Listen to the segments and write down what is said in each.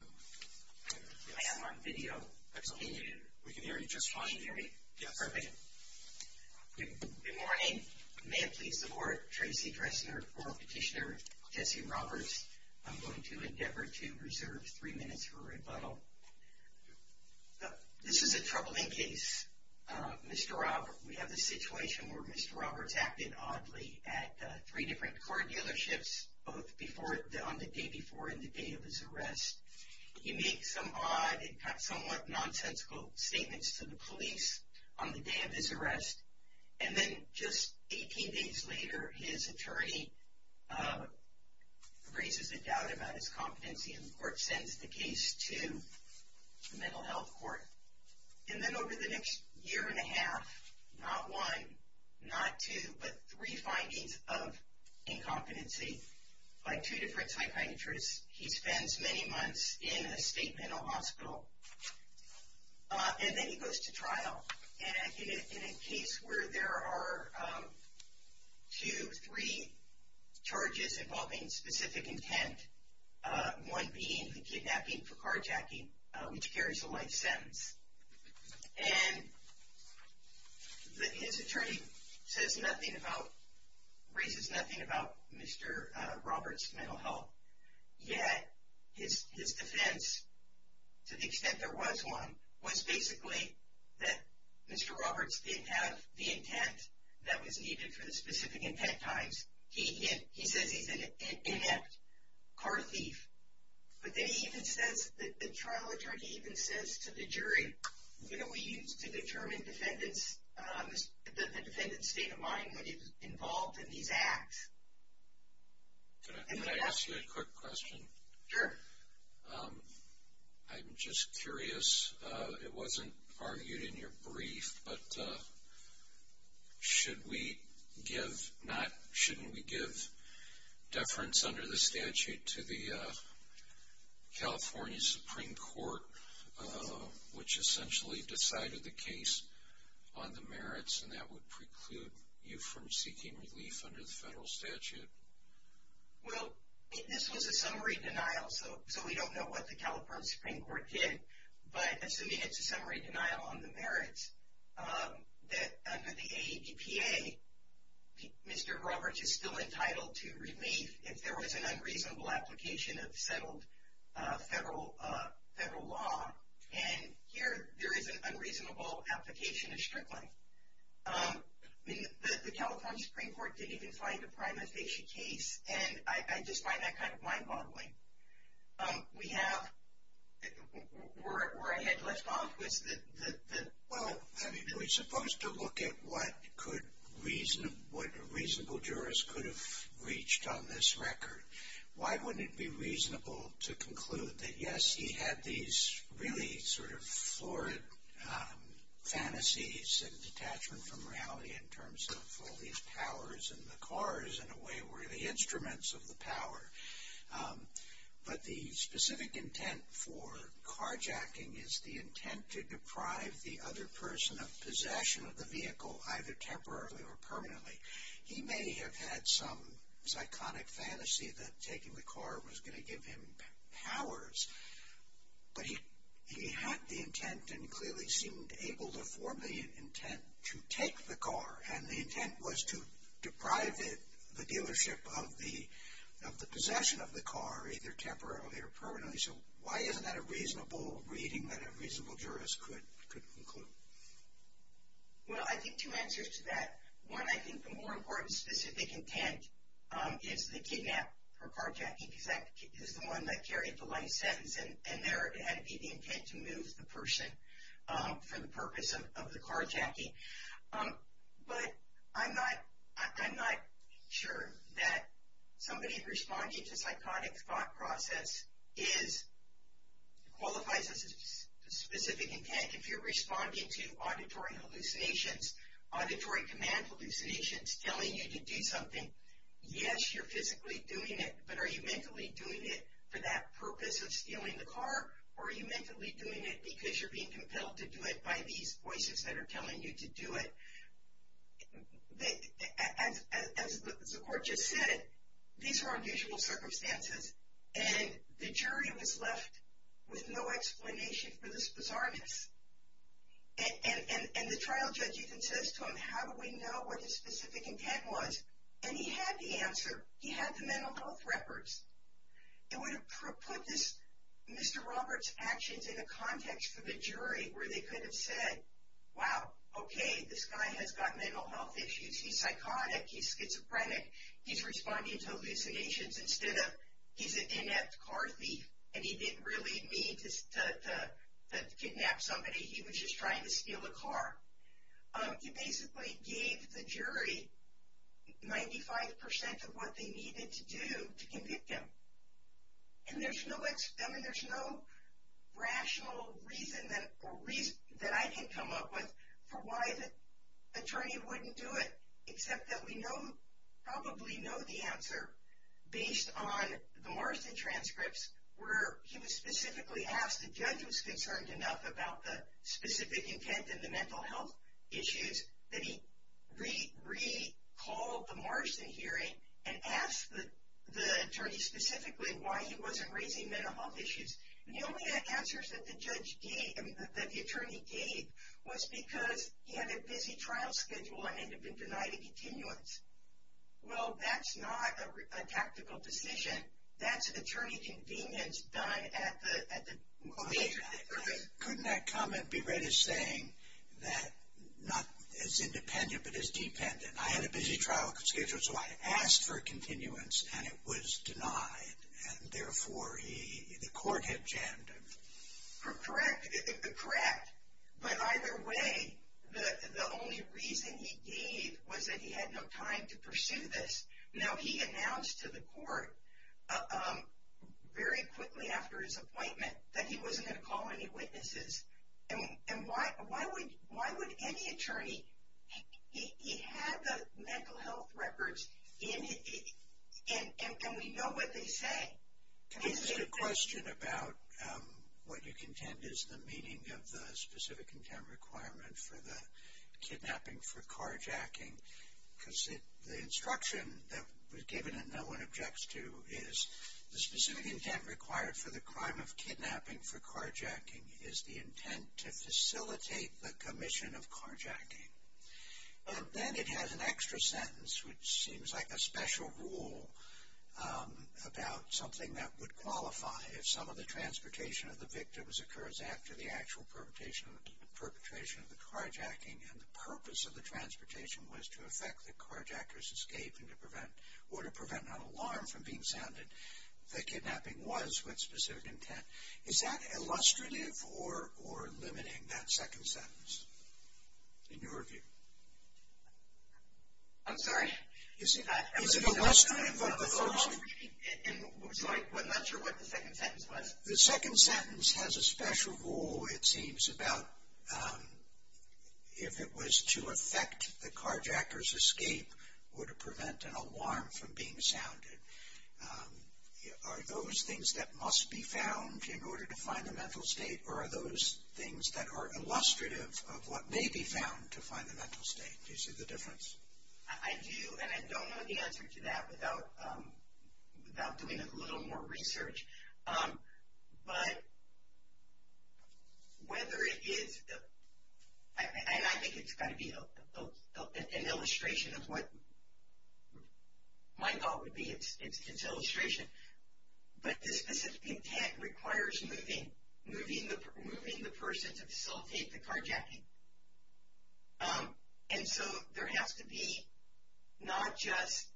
Good morning. May it please the court, Tracy Dressner, oral petitioner, Jesse Roberts. I'm going to endeavor to reserve three minutes for rebuttal. This is a troubling case. Mr. Roberts, we have a situation where Mr. Roberts acted oddly at three different car dealerships, both on the day before and the day of his arrest. He made some odd and somewhat nonsensical statements to the police on the day of his arrest. And then just 18 days later, his attorney raises a doubt about his competency and the court sends the case to the mental health court. And then over the next year and a half, not one, not two, but three findings of incompetency by two different psychiatrists, he spends many months in a state mental hospital. And then he goes to trial. And I think in a case where there are two, three charges involving specific intent, one being the kidnapping for carjacking, which carries a life sentence. And his attorney says nothing about, raises nothing about Mr. Roberts' mental health. Yet his defense, to the extent there was one, was basically that Mr. Roberts did have the inept car thief. But then he even says, the trial attorney even says to the jury, you know, we used to determine the defendant's state of mind when he was involved in these acts. Can I ask you a quick question? Sure. I'm just curious, it wasn't argued in your brief, but should we give, not, shouldn't we give deference under the statute to the California Supreme Court, which essentially decided the case on the merits and that would preclude you from seeking relief under the federal statute? Well, this was a summary denial, so we don't know what the California Supreme Court did. But assuming it's a summary denial on the merits, that under the ADPA, Mr. Roberts is still entitled to relief if there was an unreasonable application of settled federal law. And here, there is an unreasonable application of Strickland. I mean, the California Supreme Court didn't even find a prima facie case, and I just find that kind of mind-boggling. We have, where I had to respond was the... Well, I mean, we're supposed to look at what reasonable jurors could have reached on this record. Why wouldn't it be reasonable to conclude that, yes, he had these really sort of florid fantasies and detachment from reality in terms of all these powers and the cars, in a way, were the instruments of the power. But the specific intent for carjacking is the intent to deprive the other person of possession of the vehicle, either temporarily or permanently. He may have had some psychotic fantasy that taking the car was going to give him powers, but he had the intent and clearly seemed able to form the intent to take the car, and the intent was to deprive the dealership of the possession of the car, either temporarily or permanently. So, why isn't that a reasonable reading that a reasonable jurist could conclude? Well, I think two answers to that. One, I think the more important specific intent is the kidnap for carjacking, because that is the one that carried the license, and there had to be the intent to move the person for the purpose of the carjacking. But I'm not sure that somebody responding to psychotic thought process qualifies as a specific intent. If you're responding to auditory hallucinations, auditory command hallucinations, telling you to do something, yes, you're physically doing it, but are you mentally doing it for that purpose of stealing the car, or are you mentally doing it because you're being compelled to do it by these voices that are telling you to do it? As the court just said, these are unusual circumstances, and the jury was left with no explanation for this bizarreness. And the trial judge even says to him, how do we know what his specific intent was? And he had the answer. He had the mental health records. It would have put Mr. Roberts' actions in a context for the jury where they could have said, wow, okay, this guy has got mental health issues. He's psychotic. He's schizophrenic. He's responding to hallucinations instead of he's an inept car thief, and he didn't really mean to kidnap somebody. He was just trying to steal the car. He basically gave the jury 95% of what they needed to do to convict him. And there's no rational reason that I can come up with for why the attorney wouldn't do it, except that we probably know the answer based on the Marston transcripts where he was specifically asked, the judge was concerned enough about the specific intent and the mental health issues that he recalled the Marston hearing and asked the attorney specifically why he wasn't raising mental health issues. And the only answers that the attorney gave was because he had a busy trial schedule and had been denied a continuance. Well, that's not a tactical decision. That's an attorney convenience done at the nature of the case. Couldn't that comment be read as saying that not as independent but as dependent? I had a busy trial schedule, so I asked for a continuance, and it was denied, and therefore the court had jammed him. Correct. But either way, the only reason he gave was that he had no time to pursue this. Now, he announced to the court very quickly after his appointment that he wasn't going to call any witnesses, and why would any attorney? He had the mental health records, and we know what they say. Can I ask a question about what you contend is the meaning of the specific intent requirement for the kidnapping for carjacking? Because the instruction that was given and no one objects to is, the specific intent required for the crime of kidnapping for carjacking is the intent to facilitate the commission of carjacking. Then it has an extra sentence which seems like a special rule about something that would qualify. If some of the transportation of the victims occurs after the actual perpetration of the carjacking and the purpose of the transportation was to affect the carjacker's escape or to prevent an alarm from being sounded, the kidnapping was with specific intent. Is that illustrative or limiting that second sentence? In your view. I'm sorry. Is it illustrative of the first? I'm not sure what the second sentence was. The second sentence has a special rule, it seems, about if it was to affect the carjacker's escape or to prevent an alarm from being sounded. Are those things that must be found in order to find the mental state, or are those things that are illustrative of what may be found to find the mental state? Do you see the difference? I do, and I don't know the answer to that without doing a little more research. But whether it is, and I think it's got to be an illustration of what my thought would be its illustration, but the specific intent requires moving the person to facilitate the carjacking. And so there has to be not just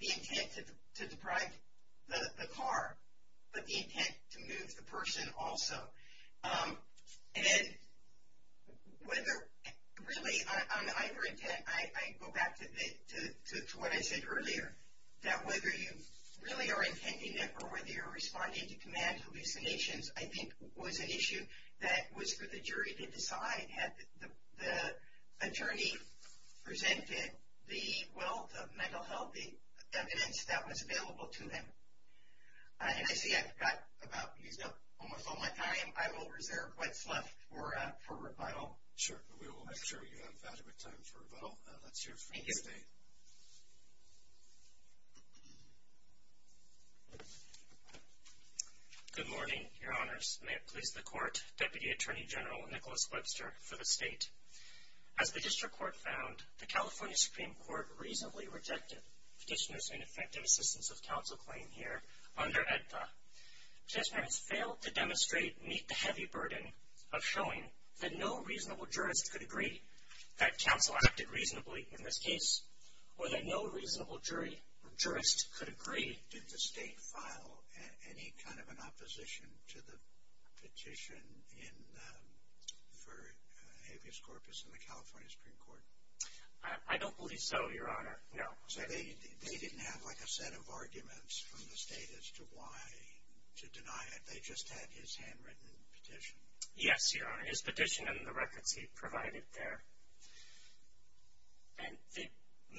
the intent to deprive the car, but the intent to move the person also. And whether really on either intent, I go back to what I said earlier, that whether you really are intending it or whether you're responding to command hallucinations, I think was an issue that was for the jury to decide had the attorney presented the wealth of mental health evidence that was available to them. And I see I've got about used up almost all my time. I will reserve what's left for rebuttal. Sure, we will make sure you have adequate time for rebuttal. Let's hear from the State. Good morning, Your Honors. May it please the Court, Deputy Attorney General Nicholas Webster for the State. As the District Court found, the California Supreme Court reasonably rejected Petitioner's ineffective assistance of counsel claim here under AEDPA. Testimonies failed to demonstrate meet the heavy burden of showing that no reasonable jurist could agree that counsel acted reasonably in this case or that no reasonable jurist could agree. Did the State file any kind of an opposition to the petition for habeas corpus in the California Supreme Court? I don't believe so, Your Honor, no. So they didn't have like a set of arguments from the State as to why to deny it. They just had his handwritten petition. Yes, Your Honor, his petition and the records he provided there. And the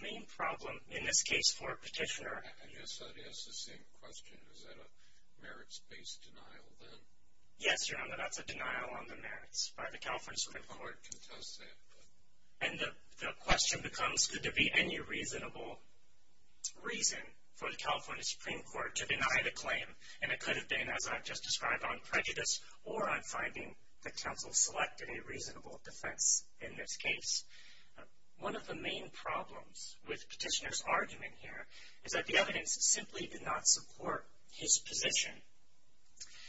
main problem in this case for Petitioner. I guess that is the same question. Is that a merits-based denial then? Yes, Your Honor, that's a denial on the merits by the California Supreme Court. The Court contests that. And the question becomes, could there be any reasonable reason for the California Supreme Court to deny the claim? And it could have been, as I've just described, on prejudice or on finding that counsel selected a reasonable defense in this case. One of the main problems with Petitioner's argument here is that the evidence simply did not support his position.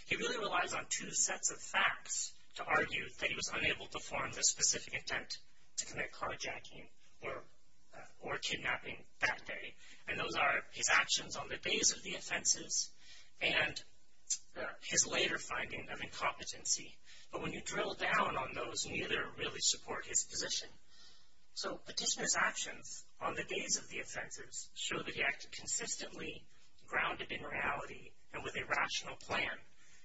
He really relies on two sets of facts to argue that he was unable to form the specific intent to commit carjacking or kidnapping that day. And those are his actions on the days of the offenses and his later finding of incompetency. But when you drill down on those, neither really support his position. So Petitioner's actions on the days of the offenses show that he acted consistently grounded in reality and with a rational plan.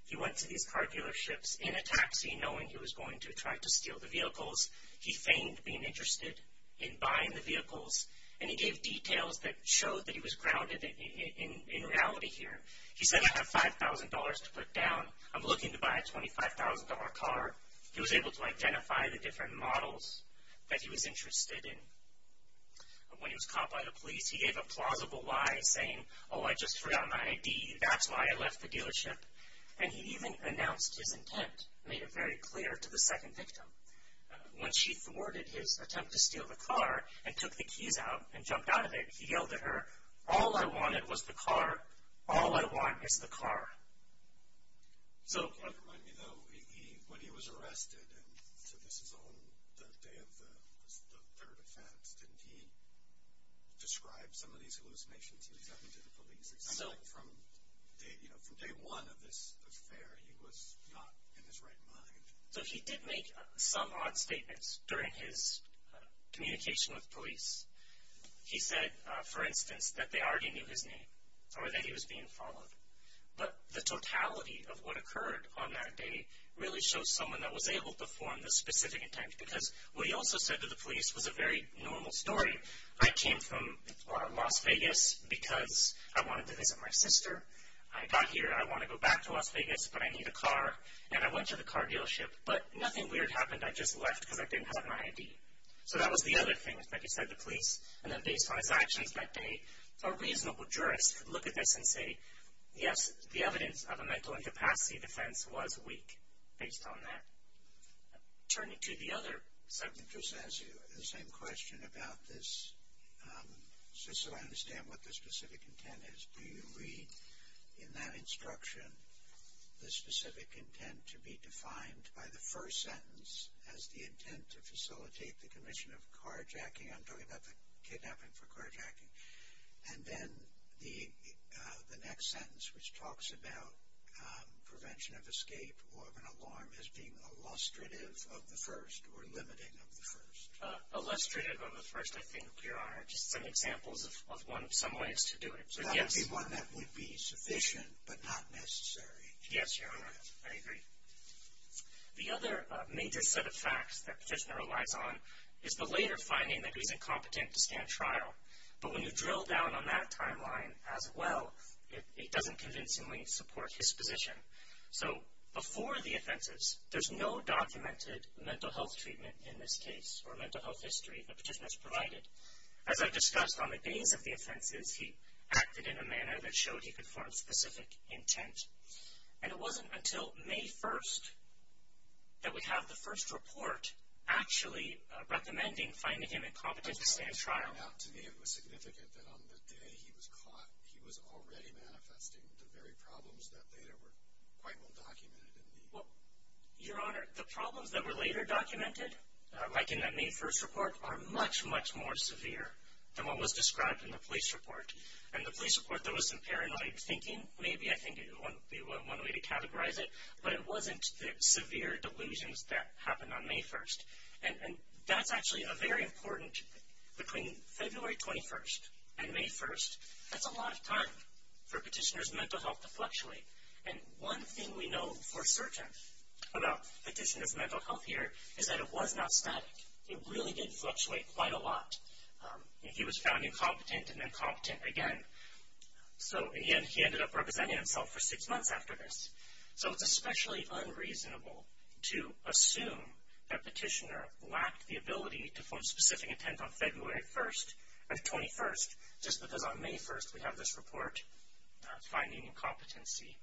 He went to these car dealerships in a taxi knowing he was going to try to steal the vehicles. He feigned being interested in buying the vehicles. And he gave details that showed that he was grounded in reality here. He said, I have $5,000 to put down. I'm looking to buy a $25,000 car. He was able to identify the different models that he was interested in. When he was caught by the police, he gave a plausible why, saying, oh, I just forgot my ID. That's why I left the dealership. And he even announced his intent, made it very clear to the second victim. When she thwarted his attempt to steal the car and took the keys out and jumped out of it, he yelled at her, all I wanted was the car. All I want is the car. Can you remind me, though, when he was arrested, and so this is on the day of the third offense, didn't he describe some of these hallucinations he was having to the police? It sounded like from day one of this affair, he was not in his right mind. So he did make some odd statements during his communication with police. He said, for instance, that they already knew his name or that he was being followed. But the totality of what occurred on that day really showed someone that was able to form the specific intent because what he also said to the police was a very normal story. I came from Las Vegas because I wanted to visit my sister. I got here, I want to go back to Las Vegas, but I need a car. And I went to the car dealership, but nothing weird happened. I just left because I didn't have my ID. So that was the other thing that he said to police. And then based on his actions that day, a reasonable jurist could look at this and say, yes, the evidence of a mental incapacity defense was weak based on that. Turning to the other section. Just to ask you the same question about this, just so I understand what the specific intent is. Do you read in that instruction the specific intent to be defined by the first sentence as the intent to facilitate the commission of carjacking? I'm talking about the kidnapping for carjacking. And then the next sentence which talks about prevention of escape or of an alarm as being illustrative of the first or limiting of the first. Illustrative of the first, I think, Your Honor. Just some examples of some ways to do it. So that would be one that would be sufficient but not necessary. Yes, Your Honor. I agree. The other major set of facts that Petitioner relies on is the later finding that he's incompetent to stand trial. But when you drill down on that timeline as well, it doesn't convincingly support his position. So before the offenses, there's no documented mental health treatment in this case or mental health history that Petitioner has provided. As I've discussed, on the days of the offenses, he acted in a manner that showed he could form specific intent. And it wasn't until May 1st that we have the first report actually recommending finding him incompetent to stand trial. To me, it was significant that on the day he was caught, he was already manifesting the very problems that later were quite well documented in me. Well, Your Honor, the problems that were later documented, like in that May 1st report, are much, much more severe than what was described in the police report. In the police report, there was some paranoid thinking. Maybe I think it would be one way to categorize it. But it wasn't the severe delusions that happened on May 1st. And that's actually very important. Between February 21st and May 1st, that's a lot of time for Petitioner's mental health to fluctuate. And one thing we know for certain about Petitioner's mental health here is that it was not static. It really did fluctuate quite a lot. He was found incompetent and incompetent again. So, again, he ended up representing himself for six months after this. So it's especially unreasonable to assume that Petitioner lacked the ability to form specific intent on February 1st, of 21st, just because on May 1st we have this report finding incompetency.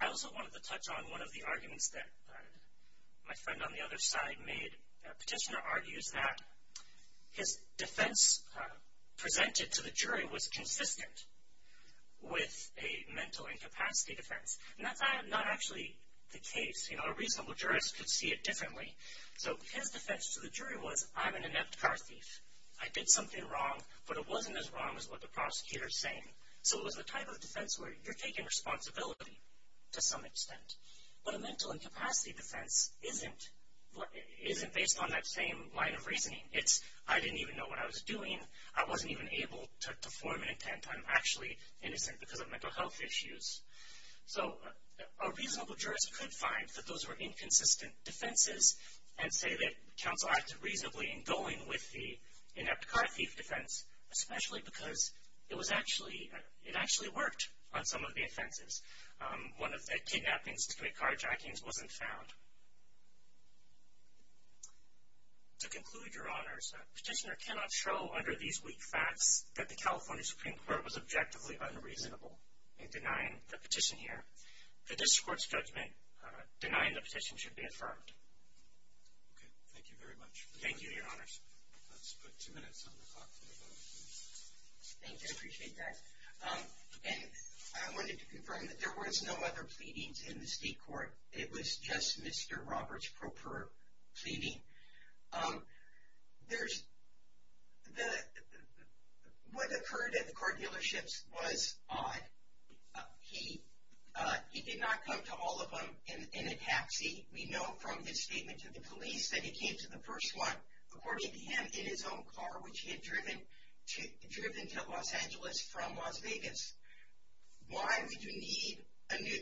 I also wanted to touch on one of the arguments that my friend on the other side made. Petitioner argues that his defense presented to the jury was consistent with a mental incapacity defense. And that's not actually the case. A reasonable jurist could see it differently. So his defense to the jury was, I'm an inept car thief. I did something wrong, but it wasn't as wrong as what the prosecutor is saying. So it was the type of defense where you're taking responsibility to some extent. But a mental incapacity defense isn't based on that same line of reasoning. It's, I didn't even know what I was doing. I wasn't even able to form an intent. I'm actually innocent because of mental health issues. So a reasonable jurist could find that those were inconsistent defenses and say that counsel acted reasonably in going with the inept car thief defense, especially because it actually worked on some of the offenses. One of the kidnappings to make carjackings wasn't found. To conclude, Your Honors, Petitioner cannot show under these weak facts that the California Supreme Court was objectively unreasonable in denying the petition here. The district court's judgment denying the petition should be affirmed. Okay. Thank you very much. Thank you, Your Honors. Let's put two minutes on the clock for the vote, please. Thank you. I appreciate that. And I wanted to confirm that there was no other pleadings in the state court. It was just Mr. Roberts' pro per pleading. What occurred at the car dealerships was odd. He did not come to all of them in a taxi. We know from his statement to the police that he came to the first one, according to him, in his own car, which he had driven to Los Angeles from Las Vegas. Why would you need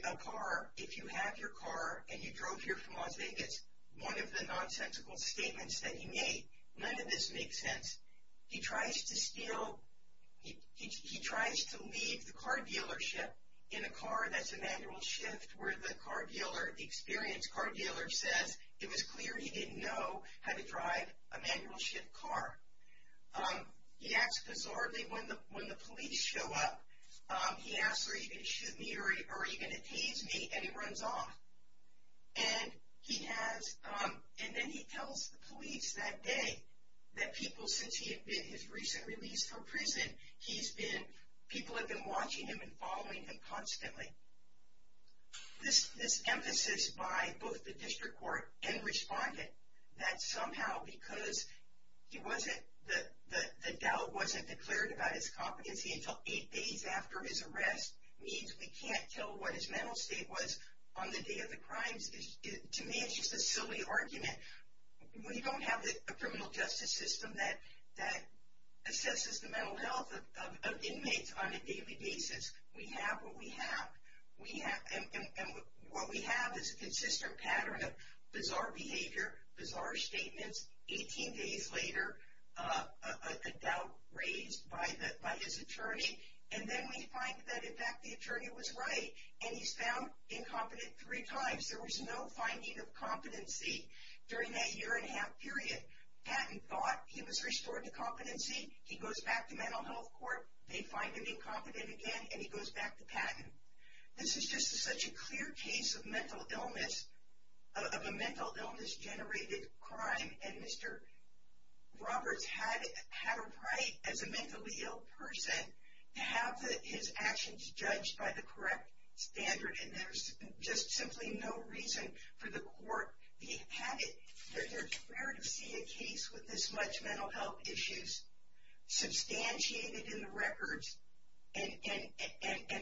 a car if you have your car and you drove here from Las Vegas? One of the nonsensical statements that he made, none of this makes sense. He tries to leave the car dealership in a car that's a manual shift where the experienced car dealer says it was clear he didn't know how to drive a manual shift car. He acts bizarrely when the police show up. He asks, are you going to shoot me or are you going to tase me? And he runs off. And then he tells the police that day that people, since he had been his recent release from prison, people have been watching him and following him constantly. This emphasis by both the district court and respondent, that somehow because the doubt wasn't declared about his competency until eight days after his arrest, means we can't tell what his mental state was on the day of the crimes, to me it's just a silly argument. We don't have a criminal justice system that assesses the mental health of inmates on a daily basis. We have what we have. And what we have is a consistent pattern of bizarre behavior, bizarre statements. Eighteen days later, a doubt raised by his attorney. And then we find that in fact the attorney was right. And he's found incompetent three times. There was no finding of competency during that year-and-a-half period. Patton thought he was restored to competency. He goes back to mental health court. They find him incompetent again, and he goes back to Patton. This is just such a clear case of mental illness, of a mental illness-generated crime. And Mr. Roberts had a right as a mentally ill person to have his actions judged by the correct standard. And there's just simply no reason for the court to have it. It's rare to see a case with this much mental health issues substantiated in the records and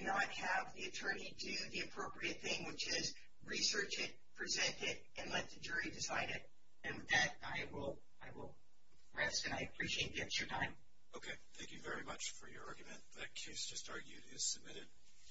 not have the attorney do the appropriate thing, which is research it, present it, and let the jury decide it. And with that, I will rest, and I appreciate the extra time. Okay. Thank you very much for your argument. That case just argued is submitted.